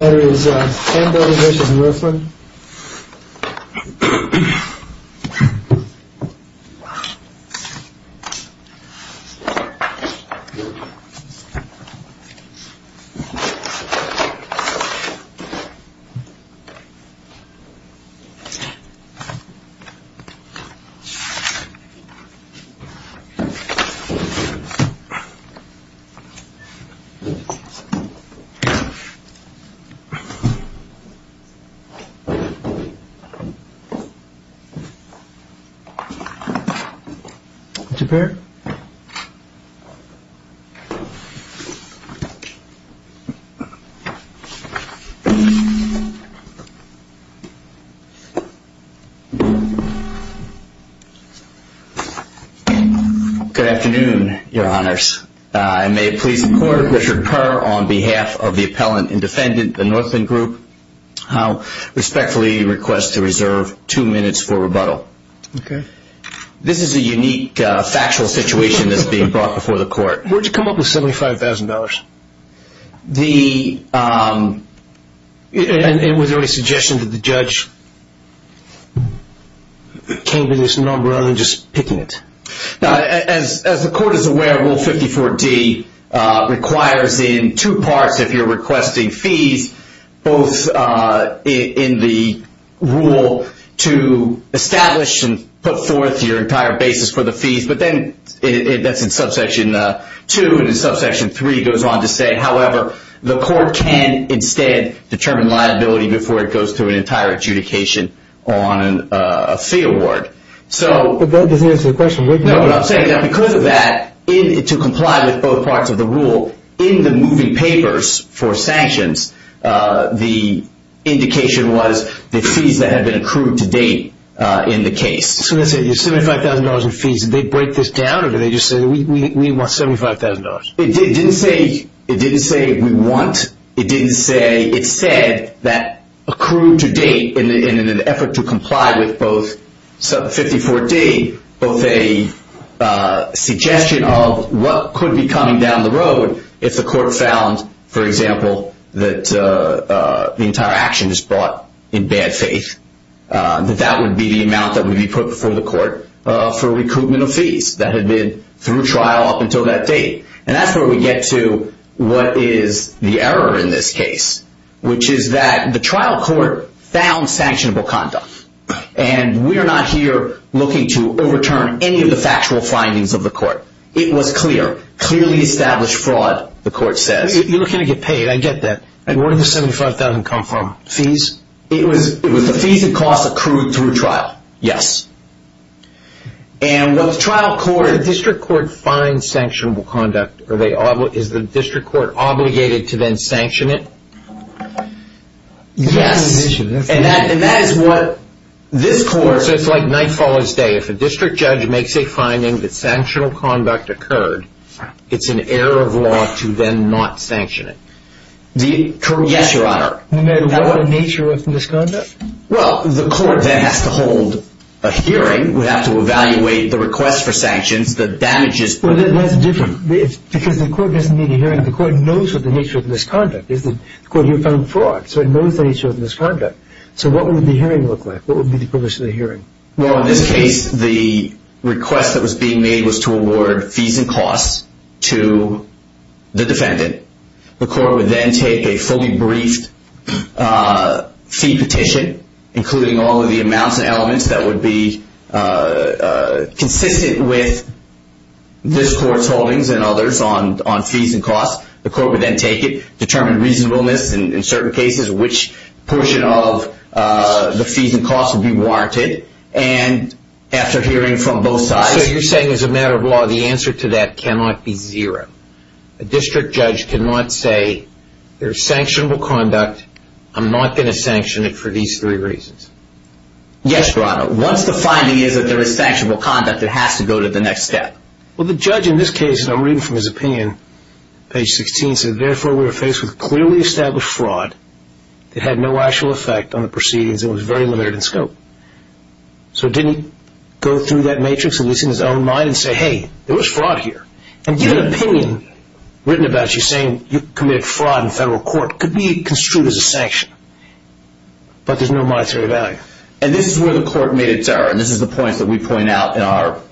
That is Hamburger v. Northland Good afternoon, your honors. I may please report Richard Purr on behalf of the appellant and defendant, the Northland Group. I respectfully request to reserve two minutes for rebuttal. This is a unique factual situation that is being brought before the court. Where did you come up with $75,000? And was there any suggestion that the judge came to this number rather than just picking it? As the court is aware, Rule 54D requires in two parts if you're requesting fees, both in the rule to establish and put forth your entire basis for the fees, but then that's in subsection 2 and subsection 3 goes on to say, however, the court can instead determine liability before it goes through an entire adjudication on a fee award. But that doesn't answer the question. No, but I'm saying that because of that, to comply with both parts of the rule, in the moving papers for sanctions, the indication was the fees that had been accrued to date in the case. So that's it, you're $75,000 in fees. Did they break this down or did they just say we want $75,000? It didn't say we want. It said that accrued to date in an effort to comply with both 5014, both a suggestion of what could be coming down the road if the court found, for example, that the entire action is brought in bad faith, that that would be the amount that would be put before the court for recoupment of fees that had been through trial up until that date. And that's where we get to what is the error in this case, which is that the trial court found sanctionable conduct. And we're not here looking to overturn any of the factual findings of the court. It was clear, clearly established fraud, the court says. You're looking to get paid, I get that. And where did the $75,000 come from, fees? It was the fees and costs accrued through trial, yes. The district court finds sanctionable conduct. Is the district court obligated to then sanction it? Yes. And that is what this court. So it's like night follows day. If a district judge makes a finding that sanctionable conduct occurred, it's an error of law to then not sanction it. Yes, Your Honor. What nature of misconduct? Well, the court then has to hold a hearing. We have to evaluate the request for sanctions, the damages. Well, that's different because the court doesn't need a hearing. The court knows what the nature of the misconduct is. The court here found fraud, so it knows the nature of the misconduct. So what would the hearing look like? What would be the purpose of the hearing? Well, in this case, the request that was being made was to award fees and costs to the defendant. The court would then take a fully briefed fee petition, including all of the amounts and elements that would be consistent with this court's holdings and others on fees and costs. The court would then take it, determine reasonableness in certain cases, which portion of the fees and costs would be warranted. And after hearing from both sides. So you're saying as a matter of law, the answer to that cannot be zero. A district judge cannot say there is sanctionable conduct. I'm not going to sanction it for these three reasons. Yes, Your Honor. Once the finding is that there is sanctionable conduct, it has to go to the next step. Well, the judge in this case, and I'm reading from his opinion, page 16, said, therefore, we are faced with clearly established fraud that had no actual effect on the proceedings. It was very limited in scope. So didn't he go through that matrix, at least in his own mind, and say, hey, there was fraud here? And your opinion, written about you saying you committed fraud in federal court, could be construed as a sanction. But there's no monetary value. And this is where the court made its error. And this is the point that we point out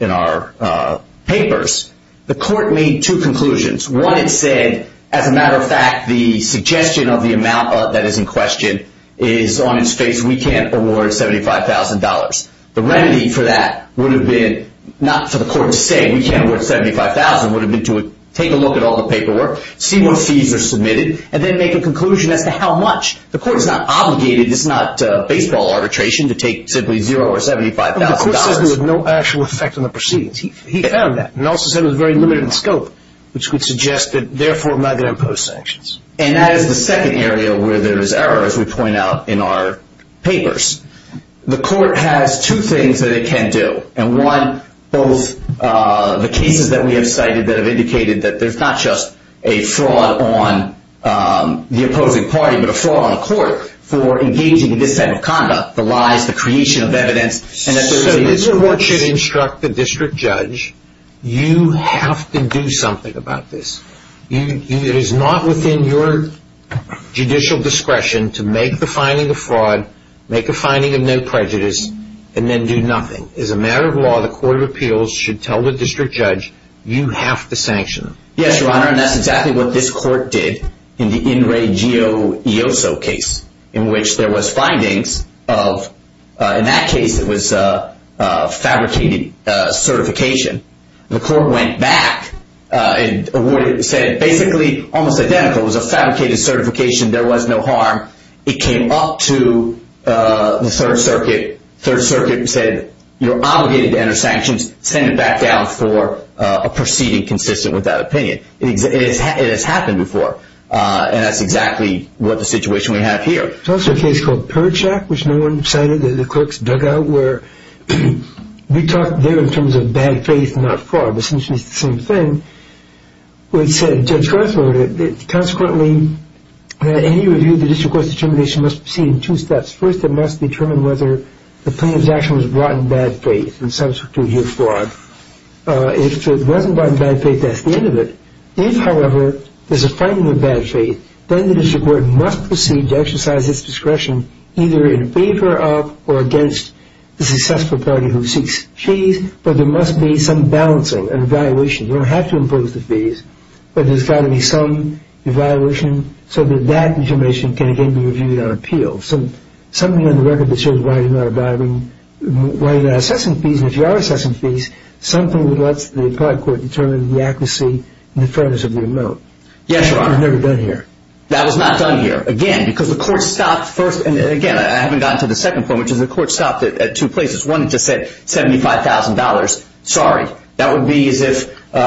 in our papers. The court made two conclusions. One, it said, as a matter of fact, the suggestion of the amount that is in question is on its face. We can't award $75,000. The remedy for that would have been not for the court to say we can't award $75,000. It would have been to take a look at all the paperwork, see what fees are submitted, and then make a conclusion as to how much. The court is not obligated. It's not baseball arbitration to take simply $0 or $75,000. The court says there was no actual effect on the proceedings. He found that. And also said it was very limited in scope, which would suggest that, therefore, I'm not going to impose sanctions. And that is the second area where there is error, as we point out in our papers. The court has two things that it can do. And one, both the cases that we have cited that have indicated that there's not just a fraud on the opposing party, but a fraud on the court for engaging in this type of conduct, the lies, the creation of evidence. So the court should instruct the district judge, you have to do something about this. It is not within your judicial discretion to make the finding of fraud, make a finding of no prejudice, and then do nothing. As a matter of law, the Court of Appeals should tell the district judge, you have to sanction them. Yes, Your Honor, and that's exactly what this court did in the In Re Gio Ioso case, in which there was findings of, in that case, it was fabricated certification. The court went back and said, basically, almost identical. It was a fabricated certification. There was no harm. It came up to the Third Circuit. Third Circuit said, you're obligated to enter sanctions. Send it back down for a proceeding consistent with that opinion. It has happened before. And that's exactly what the situation we have here. There's also a case called Perchak, which no one cited, the clerks dug out, where we talked there in terms of bad faith, not fraud. Essentially, it's the same thing. We said, Judge Garth wrote it, that consequently, that any review of the district court's determination must proceed in two steps. First, it must determine whether the plaintiff's action was brought in bad faith and substitute here fraud. If it wasn't brought in bad faith, that's the end of it. If, however, there's a finding of bad faith, then the district court must proceed to exercise its discretion either in favor of or against the successful party who seeks fees, but there must be some balancing and evaluation. You don't have to impose the fees, but there's got to be some evaluation so that that information can again be reviewed on appeal. So something on the record that shows why you're not assessing fees, and if you are assessing fees, something that lets the applied court determine the accuracy and the fairness of the amount. Yes, Your Honor. That was never done here. That was not done here. Again, because the court stopped first, and again, I haven't gotten to the second point, which is the court stopped at two places. One just said $75,000. Sorry. That would be as if we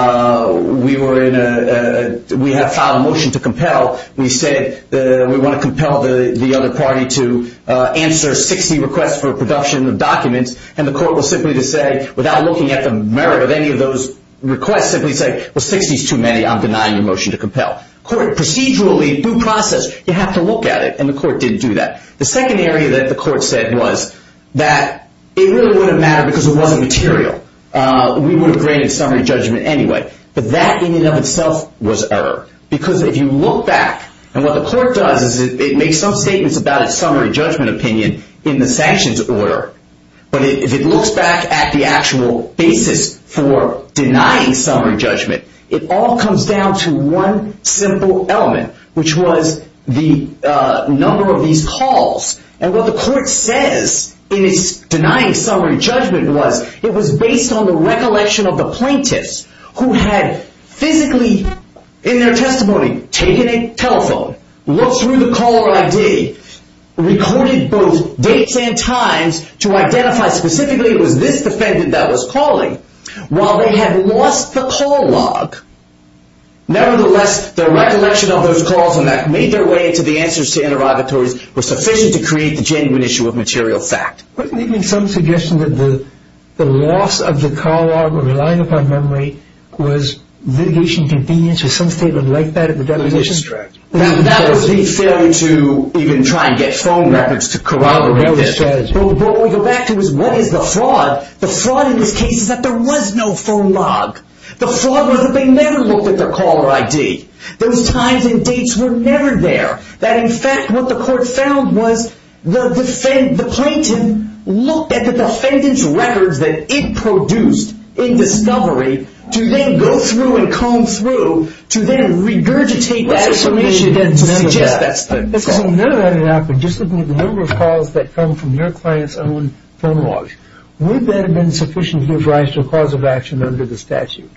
have filed a motion to compel. We said we want to compel the other party to answer 60 requests for production of documents, and the court was simply to say, without looking at the merit of any of those requests, simply say, well, 60 is too many. I'm denying your motion to compel. Procedurally, due process, you have to look at it, and the court didn't do that. The second area that the court said was that it really wouldn't matter because it wasn't material. We would have granted summary judgment anyway, but that in and of itself was error, because if you look back, and what the court does is it makes some statements about its summary judgment opinion in the sanctions order, but if it looks back at the actual basis for denying summary judgment, it all comes down to one simple element, which was the number of these calls, and what the court says in its denying summary judgment was it was based on the recollection of the plaintiffs who had physically in their testimony taken a telephone, looked through the caller ID, recorded both dates and times to identify specifically it was this defendant that was calling, while they had lost the call log. Nevertheless, the recollection of those calls and that made their way into the answers to interrogatories was sufficient to create the genuine issue of material fact. Wasn't there some suggestion that the loss of the call log or relying upon memory was litigation convenience or something like that? That was the failure to even try and get phone records to corroborate this. What we go back to is what is the fraud? The fraud in this case is that there was no phone log. The fraud was that they never looked at their caller ID. Those times and dates were never there. In fact, what the court found was the plaintiff looked at the defendant's records that it produced in discovery to then go through and comb through to then regurgitate that information and to suggest that stuff. Just looking at the number of calls that come from your client's own phone logs, would that have been sufficient to give rise to a cause of action under the statute?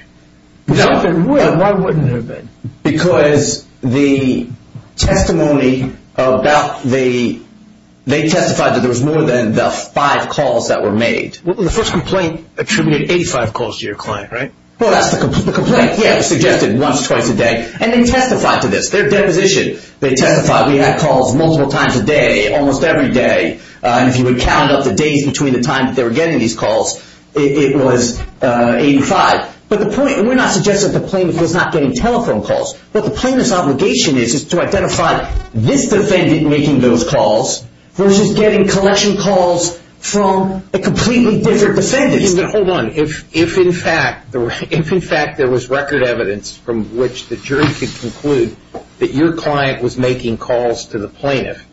If it would, why wouldn't it have been? Because the testimony about the—they testified that there was more than the five calls that were made. The first complaint attributed 85 calls to your client, right? Well, that's the complaint. Yeah, it was suggested once or twice a day. And they testified to this. Their deposition, they testified. We had calls multiple times a day, almost every day. If you would count up the days between the times that they were getting these calls, it was 85. But the point—we're not suggesting that the plaintiff was not getting telephone calls. What the plaintiff's obligation is is to identify this defendant making those calls versus getting collection calls from a completely different defendant. Hold on. If, in fact, there was record evidence from which the jury could conclude that your client was making calls to the plaintiff,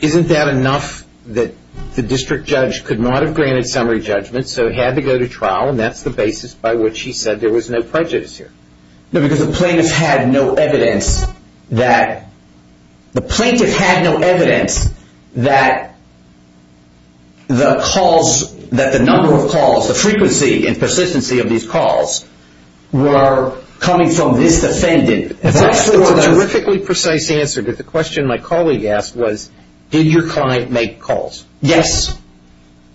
isn't that enough that the district judge could not have granted summary judgment so he had to go to trial and that's the basis by which he said there was no prejudice here? No, because the plaintiff had no evidence that—the plaintiff had no evidence that the calls—that the number of calls, the frequency and persistency of these calls were coming from this defendant. For a terrifically precise answer to the question my colleague asked was, did your client make calls? Yes.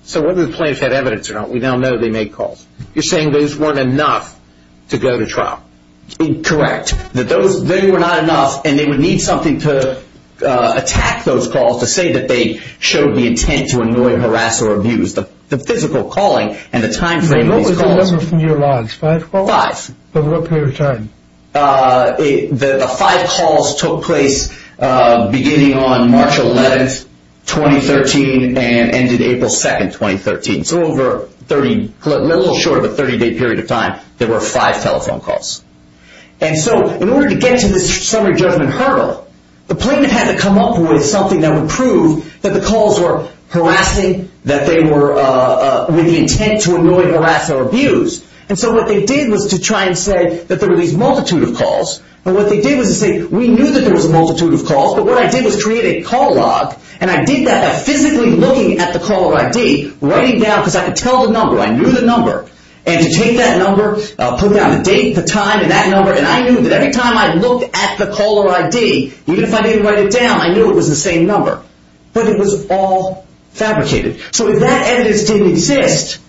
So whether the plaintiff had evidence or not, we now know they made calls. You're saying those weren't enough to go to trial? Correct. That those—they were not enough and they would need something to attack those calls to say that they showed the intent to annoy, harass, or abuse. The physical calling and the timeframe of these calls— What was the number from your lines? Five calls? Five. For what period of time? The five calls took place beginning on March 11, 2013 and ended April 2, 2013. So over 30—a little short of a 30-day period of time, there were five telephone calls. And so in order to get to this summary judgment hurdle, the plaintiff had to come up with something that would prove that the calls were harassing, that they were with the intent to annoy, harass, or abuse. And so what they did was to try and say that there were these multitude of calls. And what they did was to say, we knew that there was a multitude of calls, but what I did was create a call log and I did that by physically looking at the caller ID, writing down—because I could tell the number, I knew the number— and to take that number, put down the date, the time, and that number, and I knew that every time I looked at the caller ID, even if I didn't write it down, I knew it was the same number. But it was all fabricated. So if that evidence didn't exist,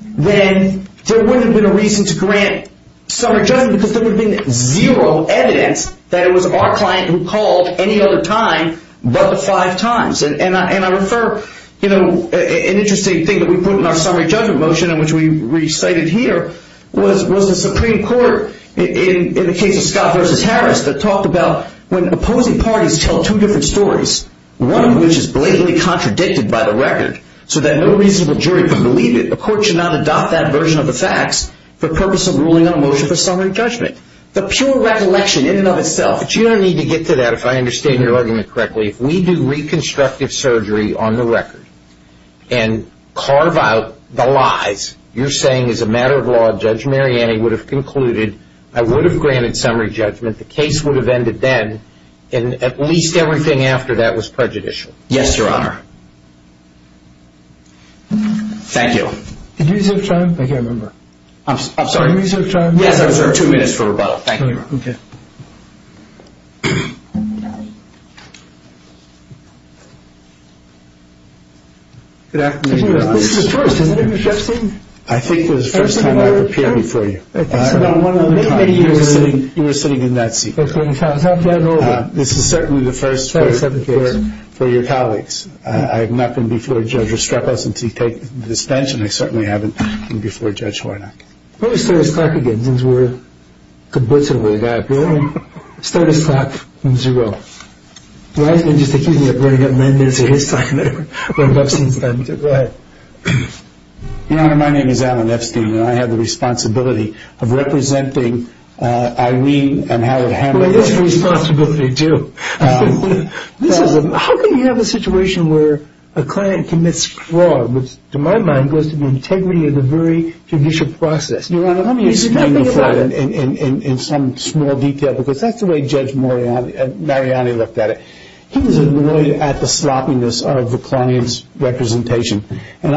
then there wouldn't have been a reason to grant summary judgment because there would have been zero evidence that it was our client who called any other time but the five times. And I refer—an interesting thing that we put in our summary judgment motion, which we recited here, was the Supreme Court, in the case of Scott v. Harris, that talked about when opposing parties tell two different stories, one of which is blatantly contradicted by the record so that no reasonable jury can believe it, the court should not adopt that version of the facts for purpose of ruling on a motion for summary judgment. The pure recollection in and of itself—you don't need to get to that if I understand your argument correctly. If we do reconstructive surgery on the record and carve out the lies, you're saying as a matter of law Judge Mariani would have concluded, I would have granted summary judgment, the case would have ended then, and at least everything after that was prejudicial. Yes, Your Honor. Thank you. Did you reserve time? I can't remember. Did you reserve time? Yes, I reserved two minutes for rebuttal. Thank you, Your Honor. Okay. Good afternoon, Your Honor. This is the first. Is that a new judge seat? I think this is the first time I've appeared before you. That's about one and a half years ago. You were sitting in that seat. That's right. This is certainly the first for your colleagues. I have not been before Judge Restrepo since he took this bench, and I certainly haven't been before Judge Hornock. Let me start this clock again since we're complicit with the guy. Let me start this clock from zero. Why don't you just excuse me? I've already got nine minutes of his time that I've run up since then. Go ahead. Your Honor, my name is Alan Epstein, and I have the responsibility of representing Irene and Howard Hammond. Well, there's a responsibility, too. How can you have a situation where a client commits fraud, which to my mind goes to the integrity of the very judicial process? Your Honor, let me explain the fraud in some small detail, because that's the way Judge Mariani looked at it. He was annoyed at the sloppiness of the client's representation, and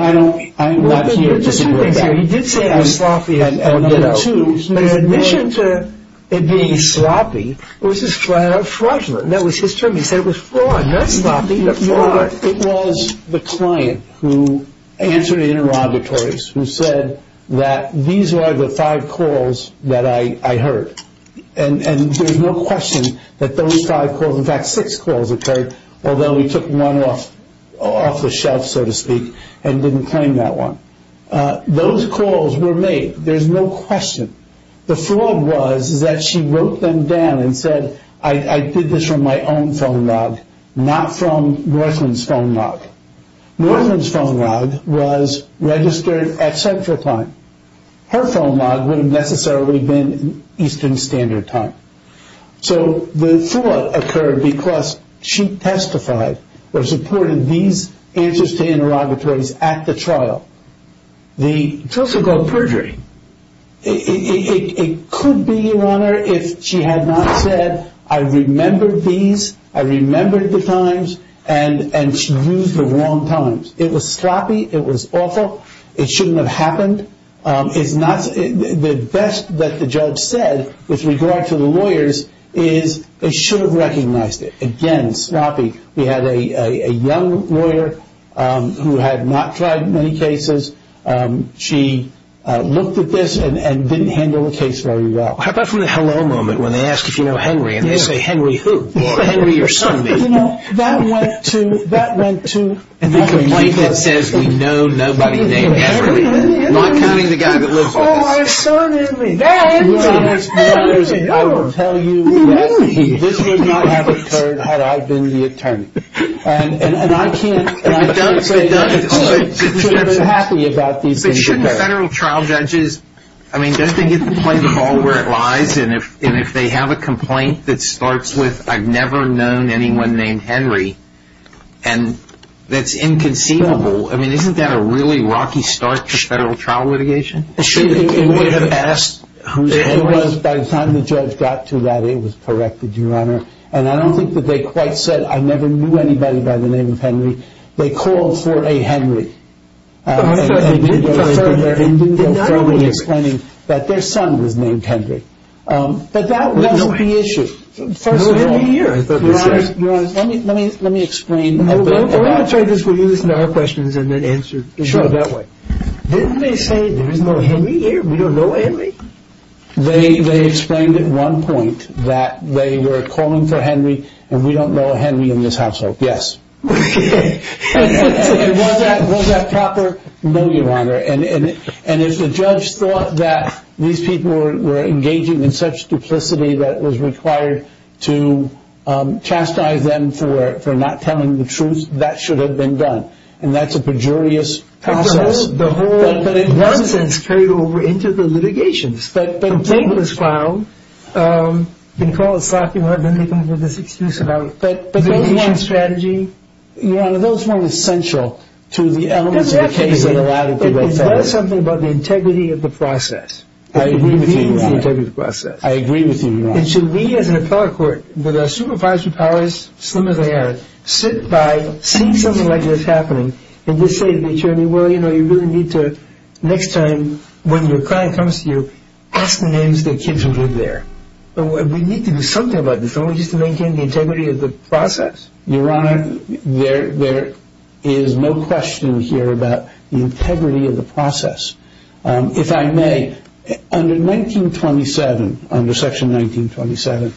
I'm not here to support that. He did say I was sloppy at number two, but in addition to it being sloppy, it was a fraudulent. That was his term. He said it was fraud, not sloppy, but fraud. Your Honor, it was the client who answered the interrogatories, who said that these are the five calls that I heard, and there's no question that those five calls, in fact, six calls occurred, although we took one off the shelf, so to speak, and didn't claim that one. Those calls were made. There's no question. The fraud was that she wrote them down and said, I did this from my own phone log, not from Northland's phone log. Northland's phone log was registered at Central Time. Her phone log would have necessarily been Eastern Standard Time. So the fraud occurred because she testified or supported these answers to interrogatories at the trial. It's also called perjury. It could be, Your Honor, if she had not said, I remember these, I remember the times, and she used the wrong times. It was sloppy. It was awful. It shouldn't have happened. The best that the judge said with regard to the lawyers is they should have recognized it. Again, sloppy. We had a young lawyer who had not tried many cases. She looked at this and didn't handle the case very well. How about from the hello moment when they ask if you know Henry and they say, Henry who? Henry, your son, maybe. That went to, that went to, And the complaint that says we know nobody named Henry. Not counting the guy that lives on the street. Oh, I have a son named Henry. I will tell you that this would not have occurred had I been the attorney. And I can't say that I'm happy about these things. But shouldn't federal trial judges, I mean, don't they get to play the ball where it lies? And if they have a complaint that starts with, I've never known anyone named Henry, and that's inconceivable, I mean, isn't that a really rocky start to federal trial litigation? Shouldn't they have asked who's Henry? It was by the time the judge got to that, it was corrected, Your Honor. And I don't think that they quite said, I never knew anybody by the name of Henry. They called for a Henry. And they didn't go further in explaining that their son was named Henry. But that wasn't the issue. No Henry here, I thought you said. Your Honor, let me explain. I want to try this with you. Listen to our questions and then answer that way. Sure. Didn't they say there's no Henry here? We don't know Henry? They explained at one point that they were calling for Henry and we don't know a Henry in this household. Yes. Was that proper? No, Your Honor. And if the judge thought that these people were engaging in such duplicity that it was required to chastise them for not telling the truth, that should have been done. And that's a pejorious process. But in one sense carried over into the litigations. Complaint was found. You can call it sloppiness, then they come up with this excuse about litigation strategy. Yeah, those weren't essential to the elements of the case that allowed it to go further. But it does something about the integrity of the process. I agree with you, Your Honor. The integrity of the process. I agree with you, Your Honor. And should we as an appellate court with our supervisory powers, slim as they are, sit by, see something like this happening, and just say to the attorney, well, you know, you really need to next time when your client comes to you, ask the names of the kids who live there. We need to do something about this. We need to maintain the integrity of the process. Your Honor, there is no question here about the integrity of the process. If I may, under 1927, under Section 1927,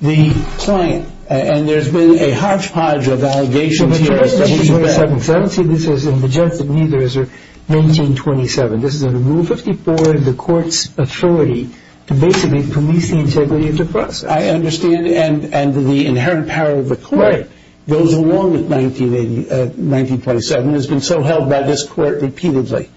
the client, and there's been a hodgepodge of allegations here. See, this is in the gist of neither is there 1927. This is under Rule 54 of the court's authority to basically police the integrity of the process. I understand, and the inherent power of the court goes along with 1927. It has been so held by this court repeatedly.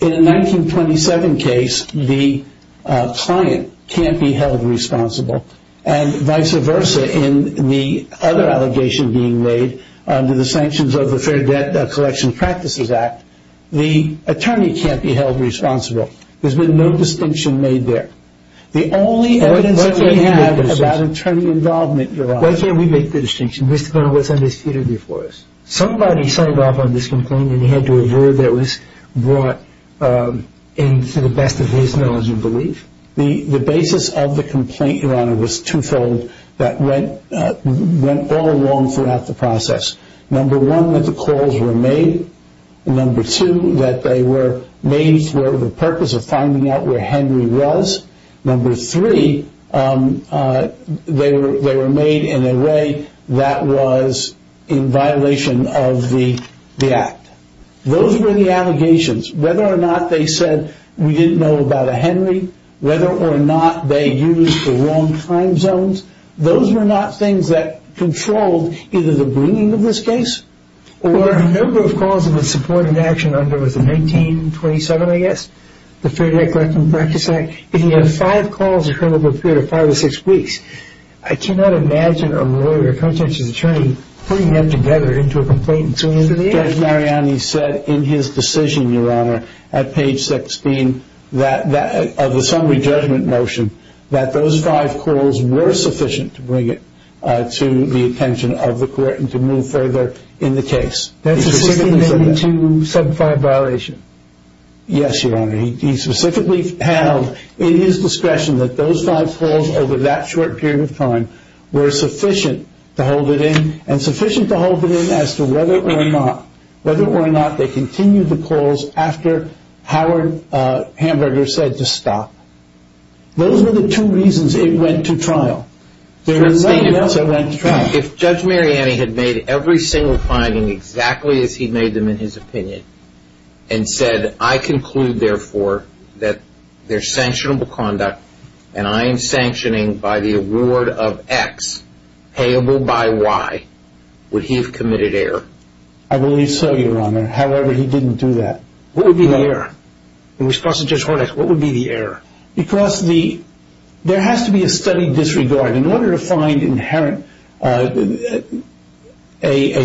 In a 1927 case, the client can't be held responsible, and vice versa in the other allegation being made under the sanctions of the Fair Debt Collection Practices Act, the attorney can't be held responsible. There's been no distinction made there. The only evidence that we have about attorney involvement, Your Honor. Why can't we make the distinction? Mr. Connolly, what's under security for us? Somebody signed off on this complaint, and he had to a word that was brought in to the best of his knowledge and belief. The basis of the complaint, Your Honor, was twofold. That went all along throughout the process. Number one, that the calls were made. Number two, that they were made for the purpose of finding out where Henry was. Number three, they were made in a way that was in violation of the act. Those were the allegations. Whether or not they said, we didn't know about a Henry, whether or not they used the wrong time zones, those were not things that controlled either the bringing of this case, or the number of calls in the supported action under the 1927, I guess, the Fair Debt Collection Practices Act. If he had five calls in a period of five or six weeks, I cannot imagine a lawyer, a conscientious attorney, putting them together into a complaint and suing him for the act. Judge Mariani said in his decision, Your Honor, at page 16, of the summary judgment motion, that those five calls were sufficient to bring it to the attention of the court and to move further in the case. That's a 1682, 75 violation. Yes, Your Honor. He specifically held in his discretion that those five calls over that short period of time were sufficient to hold it in, and sufficient to hold it in as to whether or not, whether or not they continued the calls after Howard Hamburger said to stop. Those were the two reasons it went to trial. There were many others that went to trial. If Judge Mariani had made every single finding exactly as he made them in his opinion, and said, I conclude, therefore, that there's sanctionable conduct, and I am sanctioning by the award of X payable by Y, would he have committed error? I believe so, Your Honor. However, he didn't do that. What would be the error? In response to Judge Hornex, what would be the error? Because there has to be a steady disregard. In order to find a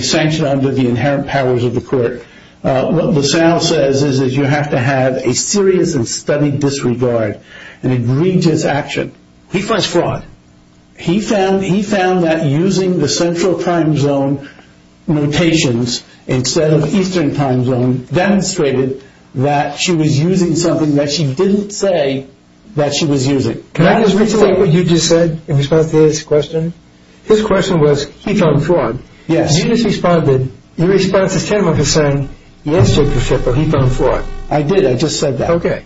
sanction under the inherent powers of the court, what LaSalle says is that you have to have a serious and steady disregard and agree to its action. He finds fraud. He found that using the Central Crime Zone notations instead of Eastern Crime Zone demonstrated that she was using something that she didn't say that she was using. Can I just rephrase what you just said in response to his question? His question was, he found fraud. Yes. You just responded, your response is tantamount to saying, yes, Judge Percival, he found fraud. I did, I just said that. Okay.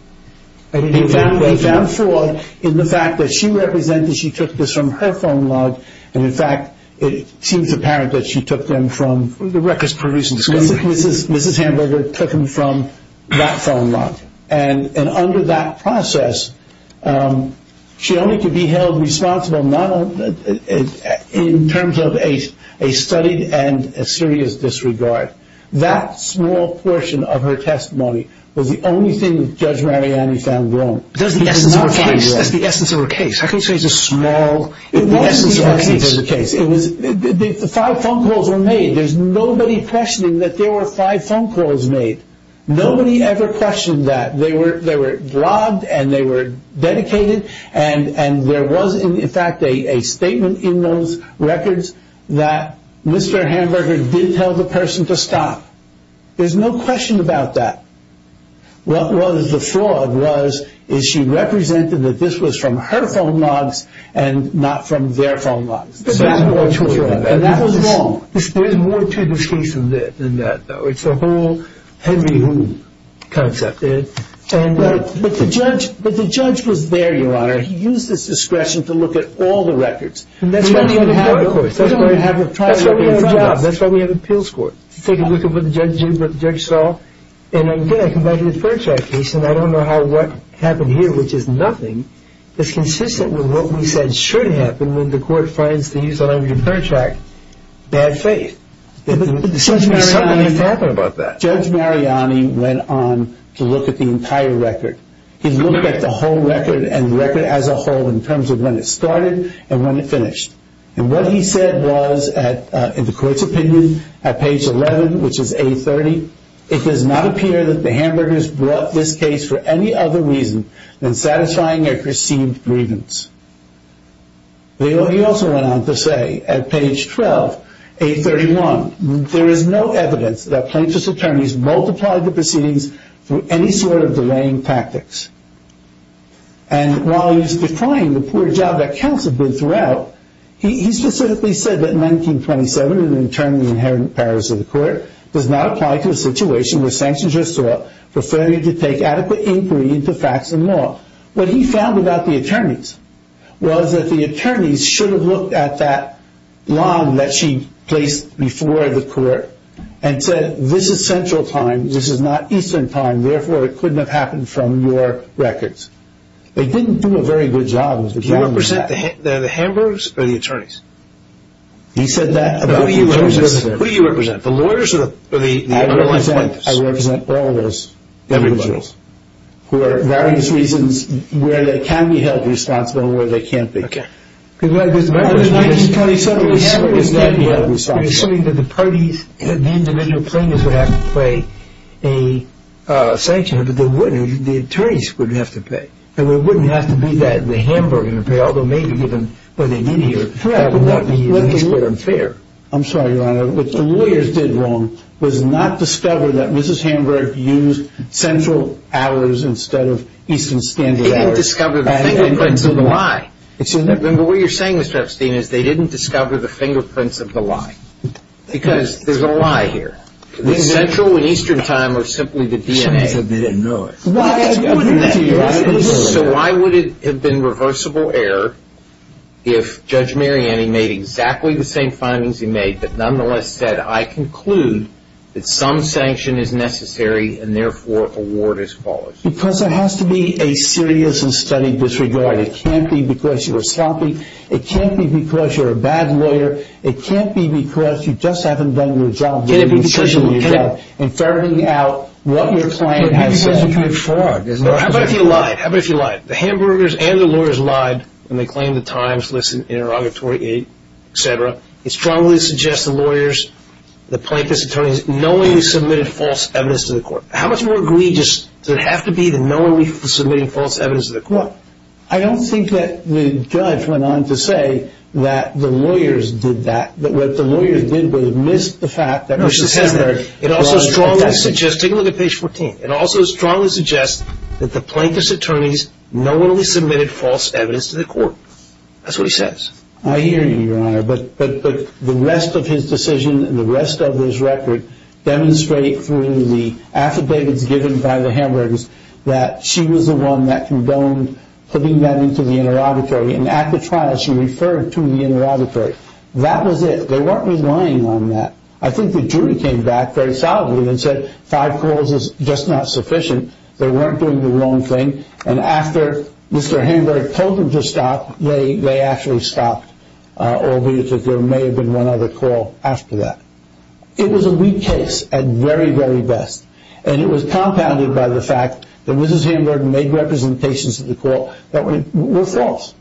He found fraud in the fact that she represented she took this from her phone log and, in fact, it seems apparent that she took them from the records produced. Mrs. Hamburger took them from that phone log. And under that process, she only could be held responsible in terms of a studied and a serious disregard. That small portion of her testimony was the only thing that Judge Mariani found wrong. That's the essence of her case. How can you say it's a small essence of her case? It wasn't the essence of the case. The five phone calls were made. There's nobody questioning that there were five phone calls made. Nobody ever questioned that. They were blogged and they were dedicated, and there was, in fact, a statement in those records that Mr. Hamburger did tell the person to stop. There's no question about that. What was the fraud was is she represented that this was from her phone logs and not from their phone logs. But that was fraud, and that was wrong. There's more to this case than that, though. It's a whole Henry Hoon concept. But the judge was there, Your Honor. He used his discretion to look at all the records. That's why we have appeals courts. Take a look at what the judge did, what the judge saw. And again, I come back to the Fairtrack case, and I don't know how what happened here, which is nothing, is consistent with what we said should happen when the court finds these under Fairtrack, bad faith. Judge Mariani went on to look at the entire record. He looked at the whole record and record as a whole in terms of when it started and when it finished. And what he said was, in the court's opinion, at page 11, which is A30, it does not appear that the Hamburgers brought this case for any other reason than satisfying their perceived grievance. He also went on to say at page 12, A31, there is no evidence that plaintiff's attorneys multiplied the proceedings through any sort of delaying tactics. And while he's decrying the poor job that counts have been throughout, he specifically said that in 1927, in the internally inherent powers of the court, does not apply to a situation where sanctions are sought for failure to take adequate inquiry into facts and law. What he found about the attorneys was that the attorneys should have looked at that line that she placed before the court and said, this is central time, this is not eastern time, and therefore it couldn't have happened from your records. They didn't do a very good job. Do you represent the Hamburgers or the attorneys? He said that about the attorneys. Who do you represent, the lawyers or the underlying plaintiffs? I represent all those individuals who are, for various reasons, Okay. In 1927, we're assuming that the parties, the individual plaintiffs would have to pay a sanction, but the attorneys wouldn't have to pay. And it wouldn't have to be that the Hamburgers would pay, although maybe given where they did hear, that would not be fair. I'm sorry, Your Honor. What the lawyers did wrong was not discover that Mrs. Hamburg used central hours instead of eastern standard hours. They didn't discover the thing, but they didn't know why. Remember, what you're saying, Mr. Epstein, is they didn't discover the fingerprints of the lie. Because there's a lie here. The central and eastern time are simply the DNA. So why would it have been reversible error if Judge Mariani made exactly the same findings he made, but nonetheless said, I conclude that some sanction is necessary and therefore a ward is followed? Because there has to be a serious and steady disregard. It can't be because you were sloppy. It can't be because you're a bad lawyer. It can't be because you just haven't done your job. It can't be because you're looking up and figuring out what your client has said. But who do you think you're trying to fraud? How about if you lied? How about if you lied? The Hamburgers and the lawyers lied when they claimed the times listed in interrogatory aid, et cetera. It strongly suggests the lawyers, the plaintiff's attorneys, knowingly submitted false evidence to the court. How much more egregious does it have to be to knowingly submitting false evidence to the court? Well, I don't think that the judge went on to say that the lawyers did that, that what the lawyers did was miss the fact that Mrs. Hamburg lied. It also strongly suggests, take a look at page 14. It also strongly suggests that the plaintiff's attorneys knowingly submitted false evidence to the court. That's what he says. I hear you, Your Honor. But the rest of his decision and the rest of his record demonstrate through the affidavits given by the Hamburgers that she was the one that condoned putting them into the interrogatory. And at the trial, she referred to the interrogatory. That was it. They weren't relying on that. I think the jury came back very solidly and said, five calls is just not sufficient. They weren't doing the wrong thing. And after Mr. Hamburg told them to stop, they actually stopped, albeit that there may have been one other call after that. It was a weak case at very, very best. And it was compounded by the fact that Mrs. Hamburg made representations to the court that were false.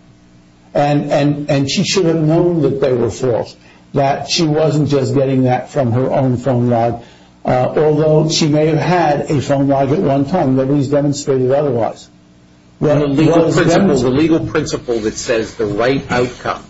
And she should have known that they were false, that she wasn't just getting that from her own phone log, although she may have had a phone log at one time. Nobody's demonstrated otherwise. The legal principle that says the right outcome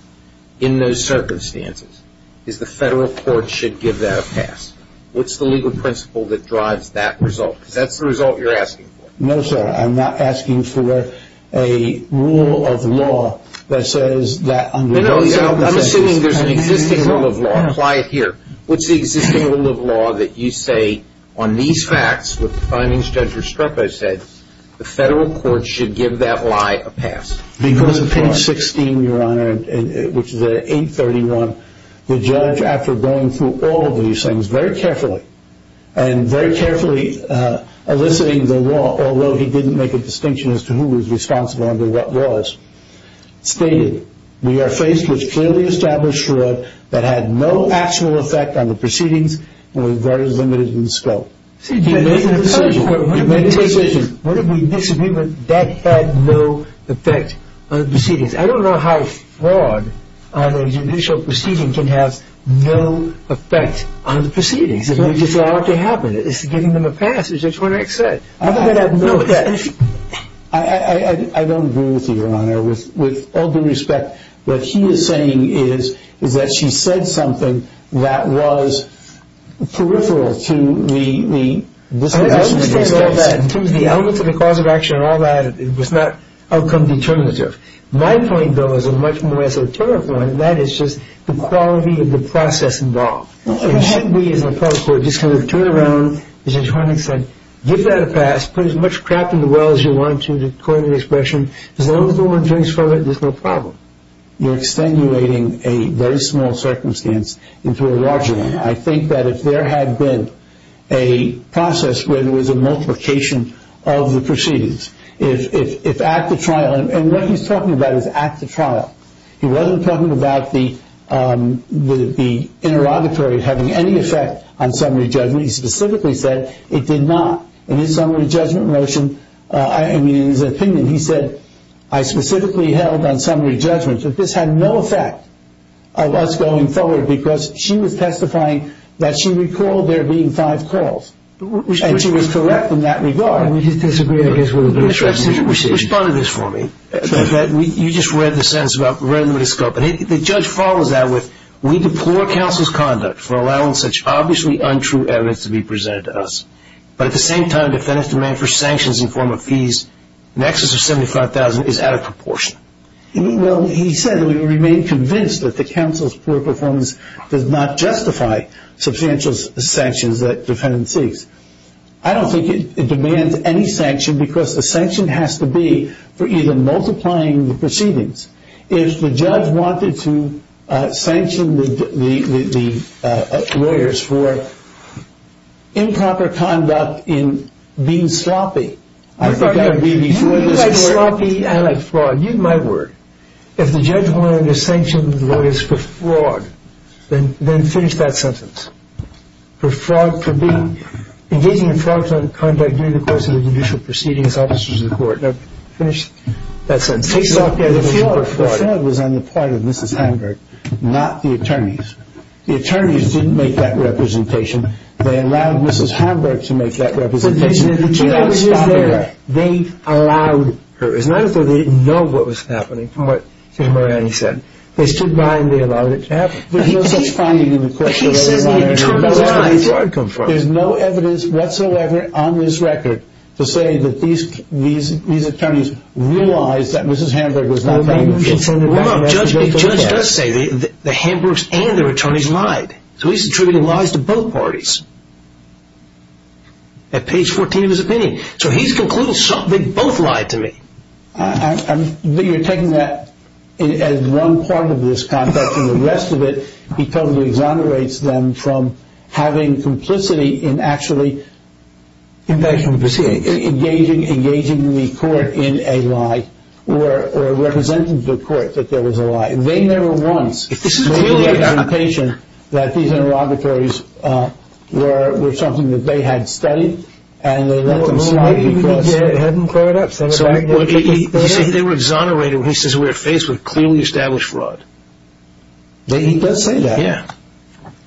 in those circumstances is the federal court should give that a pass. What's the legal principle that drives that result? Because that's the result you're asking for. No, sir. I'm not asking for a rule of law that says that under those circumstances. I'm assuming there's an existing rule of law. Apply it here. What's the existing rule of law that you say on these facts, what the findings judge Restrepo said, the federal court should give that lie a pass? Because of page 16, Your Honor, which is at 831, the judge, after going through all of these things very carefully and very carefully eliciting the law, although he didn't make a distinction as to who was responsible under what laws, stated, we are faced with clearly established fraud that had no actual effect on the proceedings and was very limited in scope. You made a decision. You made a decision. What if we disagree that that had no effect on the proceedings? I don't know how fraud on a judicial proceeding can have no effect on the proceedings. We just allow it to happen. It's giving them a pass. It's just what I said. I don't agree with you, Your Honor. With all due respect, what he is saying is that she said something that was peripheral to the disposition of the case. I understand all that. In terms of the element to the cause of action and all that, it was not outcome determinative. My point, though, is a much more esoteric one, and that is just the quality of the process involved. It should be, as opposed to just kind of turn around, as your attorney said, give that a pass, put as much crap in the well as you want to, according to the expression, as long as the woman drinks from it, there's no problem. You're extenuating a very small circumstance into a larger one. I think that if there had been a process where there was a multiplication of the proceedings, if at the trial, and what he's talking about is at the trial. He wasn't talking about the interrogatory having any effect on summary judgment. He specifically said it did not. In his summary judgment motion, I mean, in his opinion, he said, I specifically held on summary judgment that this had no effect on us going forward because she was testifying that she recalled there being five calls, and she was correct in that regard. We disagree, I guess. Respond to this for me. You just read the sentence, read it in the microscope, and the judge follows that with, we deplore counsel's conduct for allowing such obviously untrue evidence to be presented to us. But at the same time, defendant's demand for sanctions in the form of fees in excess of $75,000 is out of proportion. Well, he said that we remain convinced that the counsel's poor performance does not justify substantial sanctions that defendant seeks. I don't think it demands any sanction because the sanction has to be for either multiplying the proceedings. If the judge wanted to sanction the lawyers for improper conduct in being sloppy, I thought that would be before this court. You like sloppy, I like flawed. Use my word. If the judge wanted to sanction the lawyers for flawed, then finish that sentence. For engaging in flawed conduct during the course of the judicial proceedings, officers of the court, finish that sentence. The fraud was on the part of Mrs. Hanberg, not the attorneys. The attorneys didn't make that representation. They allowed Mrs. Hanberg to make that representation. The judge is there. They allowed her. It's not as though they didn't know what was happening from what Mr. Moraney said. They stood by and they allowed it to happen. He says the attorneys lied. There's no evidence whatsoever on this record to say that these attorneys realized that Mrs. Hanberg was not lying. Judge does say the Hanbergs and their attorneys lied. So he's attributing lies to both parties at page 14 of his opinion. So he's concluding they both lied to me. You're taking that as one part of this context and the rest of it because he exonerates them from having complicity in actually engaging the court in a lie or representing to the court that there was a lie. They never once made the argumentation that these interrogatories were something that they had studied and they let them slide. He said they were exonerated when he says we're faced with clearly established fraud. He does say that. Yeah.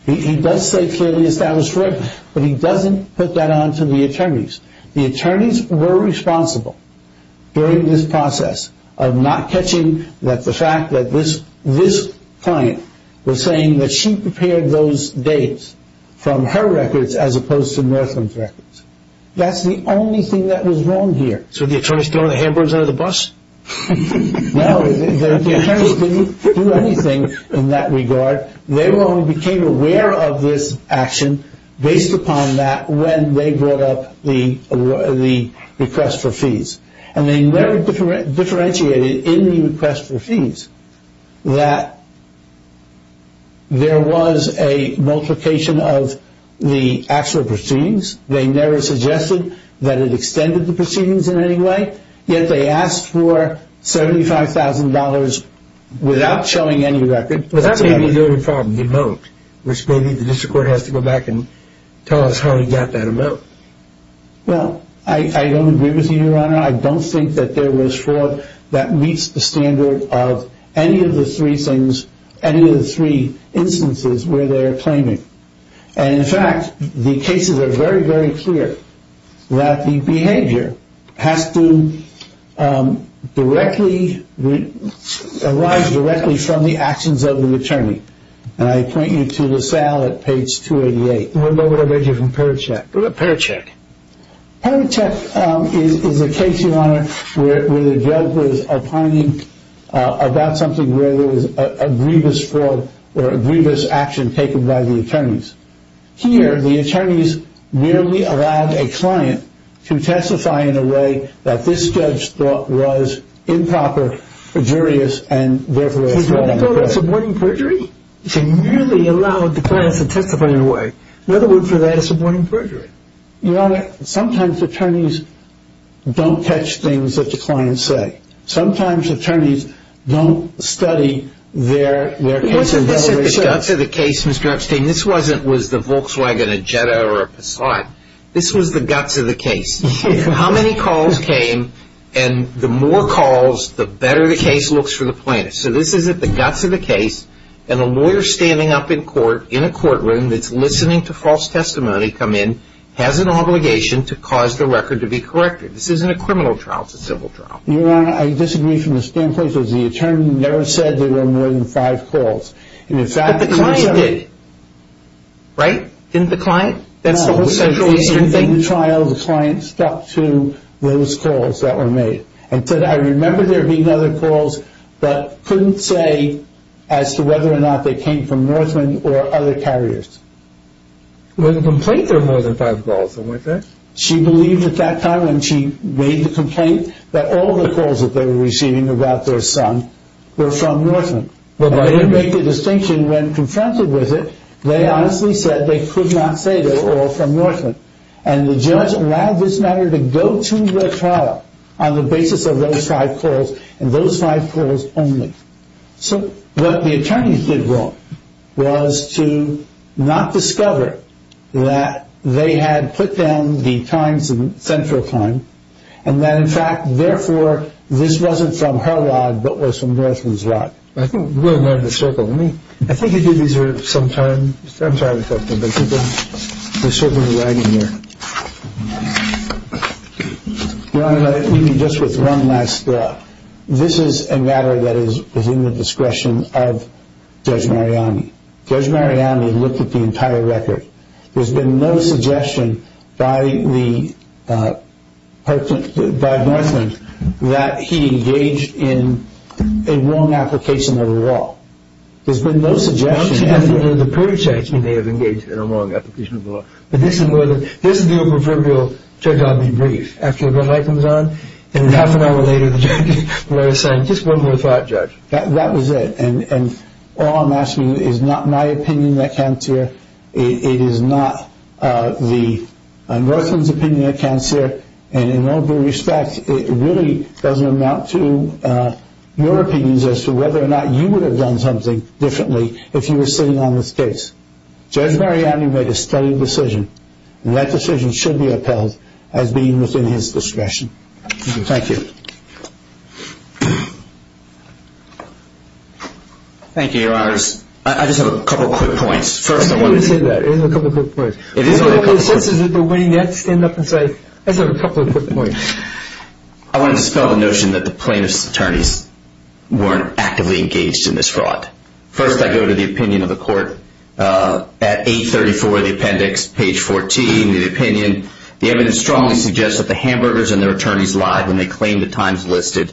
He does say clearly established fraud, but he doesn't put that onto the attorneys. The attorneys were responsible during this process of not catching that the fact that this client was saying that she prepared those dates from her records as opposed to Northland's records. That's the only thing that was wrong here. So the attorneys threw the Hanbergs under the bus? No, the attorneys didn't do anything in that regard. They only became aware of this action based upon that when they brought up the request for fees. And they never differentiated in the request for fees that there was a multiplication of the actual proceedings. They never suggested that it extended the proceedings in any way, yet they asked for $75,000 without showing any record. But that may be the only problem, the amount, which maybe the district court has to go back and tell us how he got that amount. Well, I don't agree with you, Your Honor. I don't think that there was fraud that meets the standard of any of the three instances where they're claiming. And, in fact, the cases are very, very clear that the behavior has to arise directly from the actions of the attorney. And I point you to the SAL at page 288. Well, no, what I read here from Perichek. Perichek. Perichek is a case, Your Honor, where the judge was opining about something where there was a grievous fraud or a grievous action taken by the attorneys. Here, the attorneys merely allowed a client to testify in a way that this judge thought was improper, and therefore, it was fraudulent. So did they call this aborting perjury? They merely allowed the clients to testify in a way. Another word for that is aborting perjury. Your Honor, sometimes attorneys don't catch things that the clients say. Sometimes attorneys don't study their cases that way. What's at the guts of the case, Mr. Epstein? This wasn't, was the Volkswagen a Jetta or a Passat. This was the guts of the case. How many calls came, and the more calls, the better the case looks for the plaintiff. So this is at the guts of the case, and a lawyer standing up in court in a courtroom that's listening to false testimony come in has an obligation to cause the record to be corrected. This isn't a criminal trial. It's a civil trial. Your Honor, I disagree from the standpoint that the attorney never said there were more than five calls. But the client did. Right? Didn't the client? No. In the trial, the client stuck to those calls that were made and said, I remember there being other calls, but couldn't say as to whether or not they came from Northman or other carriers. There was a complaint there were more than five calls, wasn't there? She believed at that time when she made the complaint that all the calls that they were receiving about their son were from Northman. They didn't make a distinction when confronted with it. They honestly said they could not say they were all from Northman, and the judge allowed this matter to go to the trial on the basis of those five calls and those five calls only. So what the attorneys did wrong was to not discover that they had put down the times in central time and that, in fact, therefore, this wasn't from her lot but was from Northman's lot. I think we're in the middle of the circle. I think you did these some time. I'm sorry to cut you, but we're circling the wagon here. Let me just with one last thought. This is a matter that is within the discretion of Judge Mariani. Judge Mariani looked at the entire record. There's been no suggestion by Northman that he engaged in a wrong application of the law. There's been no suggestion. The purchase may have engaged in a wrong application of the law, but this is the proverbial, Judge, I'll be brief. After the red light comes on and half an hour later the judge will let us in. Just one more thought, Judge. That was it, and all I'm asking is not my opinion that came to you. It is not Northman's opinion at cancer, and in all due respect, it really doesn't amount to your opinions as to whether or not you would have done something differently if you were sitting on this case. Judge Mariani made a steady decision, and that decision should be upheld as being within his discretion. Thank you. Thank you, Your Honors. I just have a couple quick points. First, I wanted to say that. It is a couple of quick points. It is only a couple of quick points. What are your senses at the winning end? Stand up and say, I just have a couple of quick points. I want to dispel the notion that the plaintiff's attorneys weren't actively engaged in this fraud. First, I go to the opinion of the court. At 834, the appendix, page 14, the opinion, the evidence strongly suggests that the hamburgers and their attorneys lied when they claimed the times listed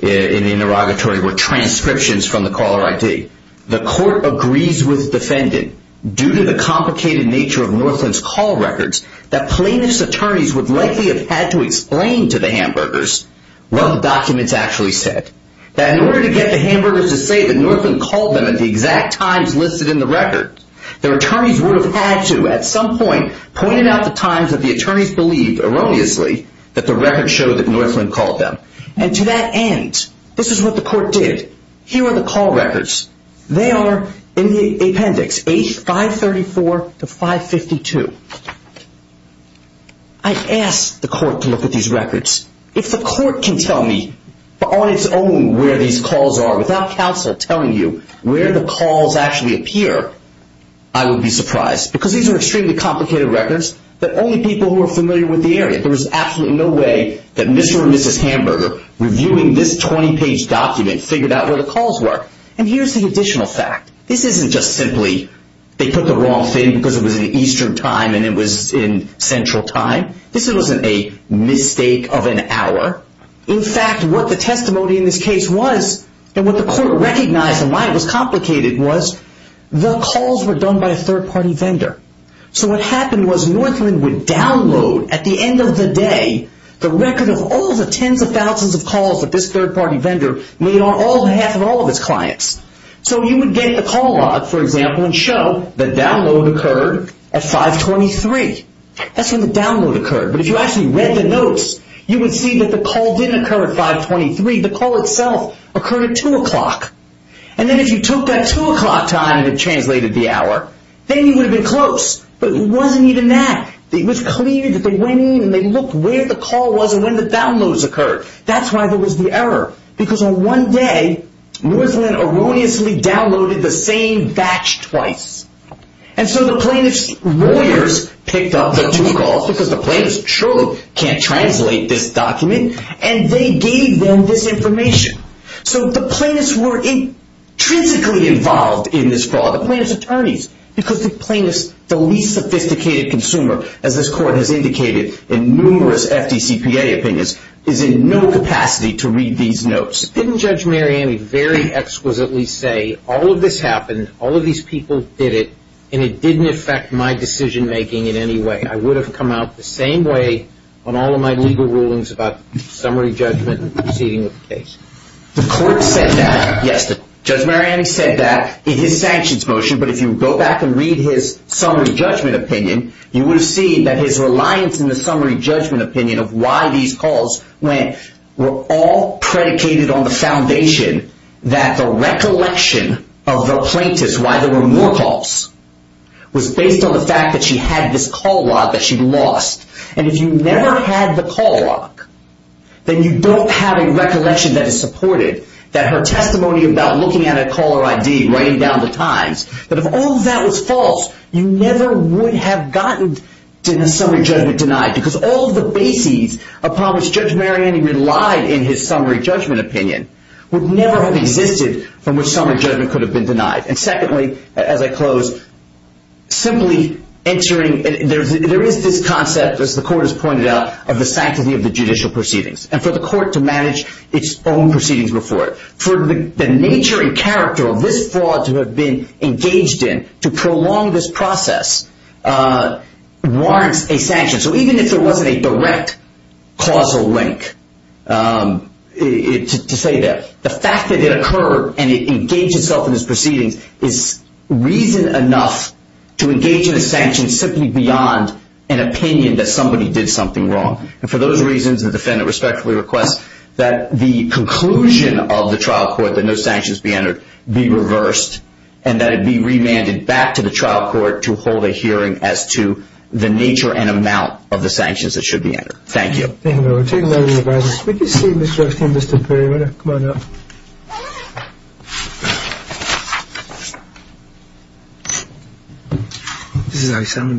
in the interrogatory were transcriptions from the caller ID. Secondly, the court agrees with the defendant, due to the complicated nature of Northland's call records, that plaintiff's attorneys would likely have had to explain to the hamburgers what the documents actually said, that in order to get the hamburgers to say that Northland called them at the exact times listed in the record, their attorneys would have had to, at some point, point out the times that the attorneys believed, erroneously, that the record showed that Northland called them. And to that end, this is what the court did. Here are the call records. They are in the appendix, 534 to 552. I asked the court to look at these records. If the court can tell me, on its own, where these calls are, without counsel telling you where the calls actually appear, I would be surprised, because these are extremely complicated records that only people who are familiar with the area, there is absolutely no way that Mr. or Mrs. Hamburger, reviewing this 20-page document, figured out where the calls were. And here's the additional fact. This isn't just simply, they put the wrong thing because it was in Eastern time and it was in Central time. This wasn't a mistake of an hour. In fact, what the testimony in this case was, and what the court recognized and why it was complicated, was the calls were done by a third-party vendor. So what happened was Northland would download, at the end of the day, the record of all the tens of thousands of calls that this third-party vendor made on behalf of all of its clients. So you would get the call log, for example, and show the download occurred at 523. That's when the download occurred. But if you actually read the notes, you would see that the call didn't occur at 523. The call itself occurred at 2 o'clock. And then if you took that 2 o'clock time and translated the hour, then you would have been close. But it wasn't even that. It was clear that they went in and they looked where the call was and when the downloads occurred. That's why there was the error, because on one day, Northland erroneously downloaded the same batch twice. And so the plaintiff's lawyers picked up the two calls, because the plaintiff surely can't translate this document, and they gave them this information. So the plaintiffs were intrinsically involved in this fraud. The plaintiff's attorneys, because the plaintiff's the least sophisticated consumer, as this Court has indicated in numerous FDCPA opinions, is in no capacity to read these notes. Didn't Judge Mariani very exquisitely say, all of this happened, all of these people did it, and it didn't affect my decision-making in any way? I would have come out the same way on all of my legal rulings about summary judgment and proceeding with the case. The Court said that yesterday. Judge Mariani said that in his sanctions motion, but if you go back and read his summary judgment opinion, you will see that his reliance in the summary judgment opinion of why these calls went were all predicated on the foundation that the recollection of the plaintiff's, why there were more calls, was based on the fact that she had this call log that she'd lost. And if you never had the call log, then you don't have a recollection that is supported, that her testimony about looking at a caller ID, writing down the times, that if all of that was false, you never would have gotten a summary judgment denied, because all of the bases upon which Judge Mariani relied in his summary judgment opinion would never have existed from which summary judgment could have been denied. And secondly, as I close, simply entering, there is this concept, as the Court has pointed out, of the sanctity of the judicial proceedings, and for the Court to manage its own proceedings before it. For the nature and character of this fraud to have been engaged in to prolong this process warrants a sanction. So even if there wasn't a direct causal link to say that, the fact that it occurred and it engaged itself in its proceedings is reason enough to engage in a sanction simply beyond an opinion that somebody did something wrong. And for those reasons, the defendant respectfully requests that the conclusion of the trial court that no sanctions be entered be reversed, and that it be remanded back to the trial court to hold a hearing as to the nature and amount of the sanctions that should be entered. Thank you.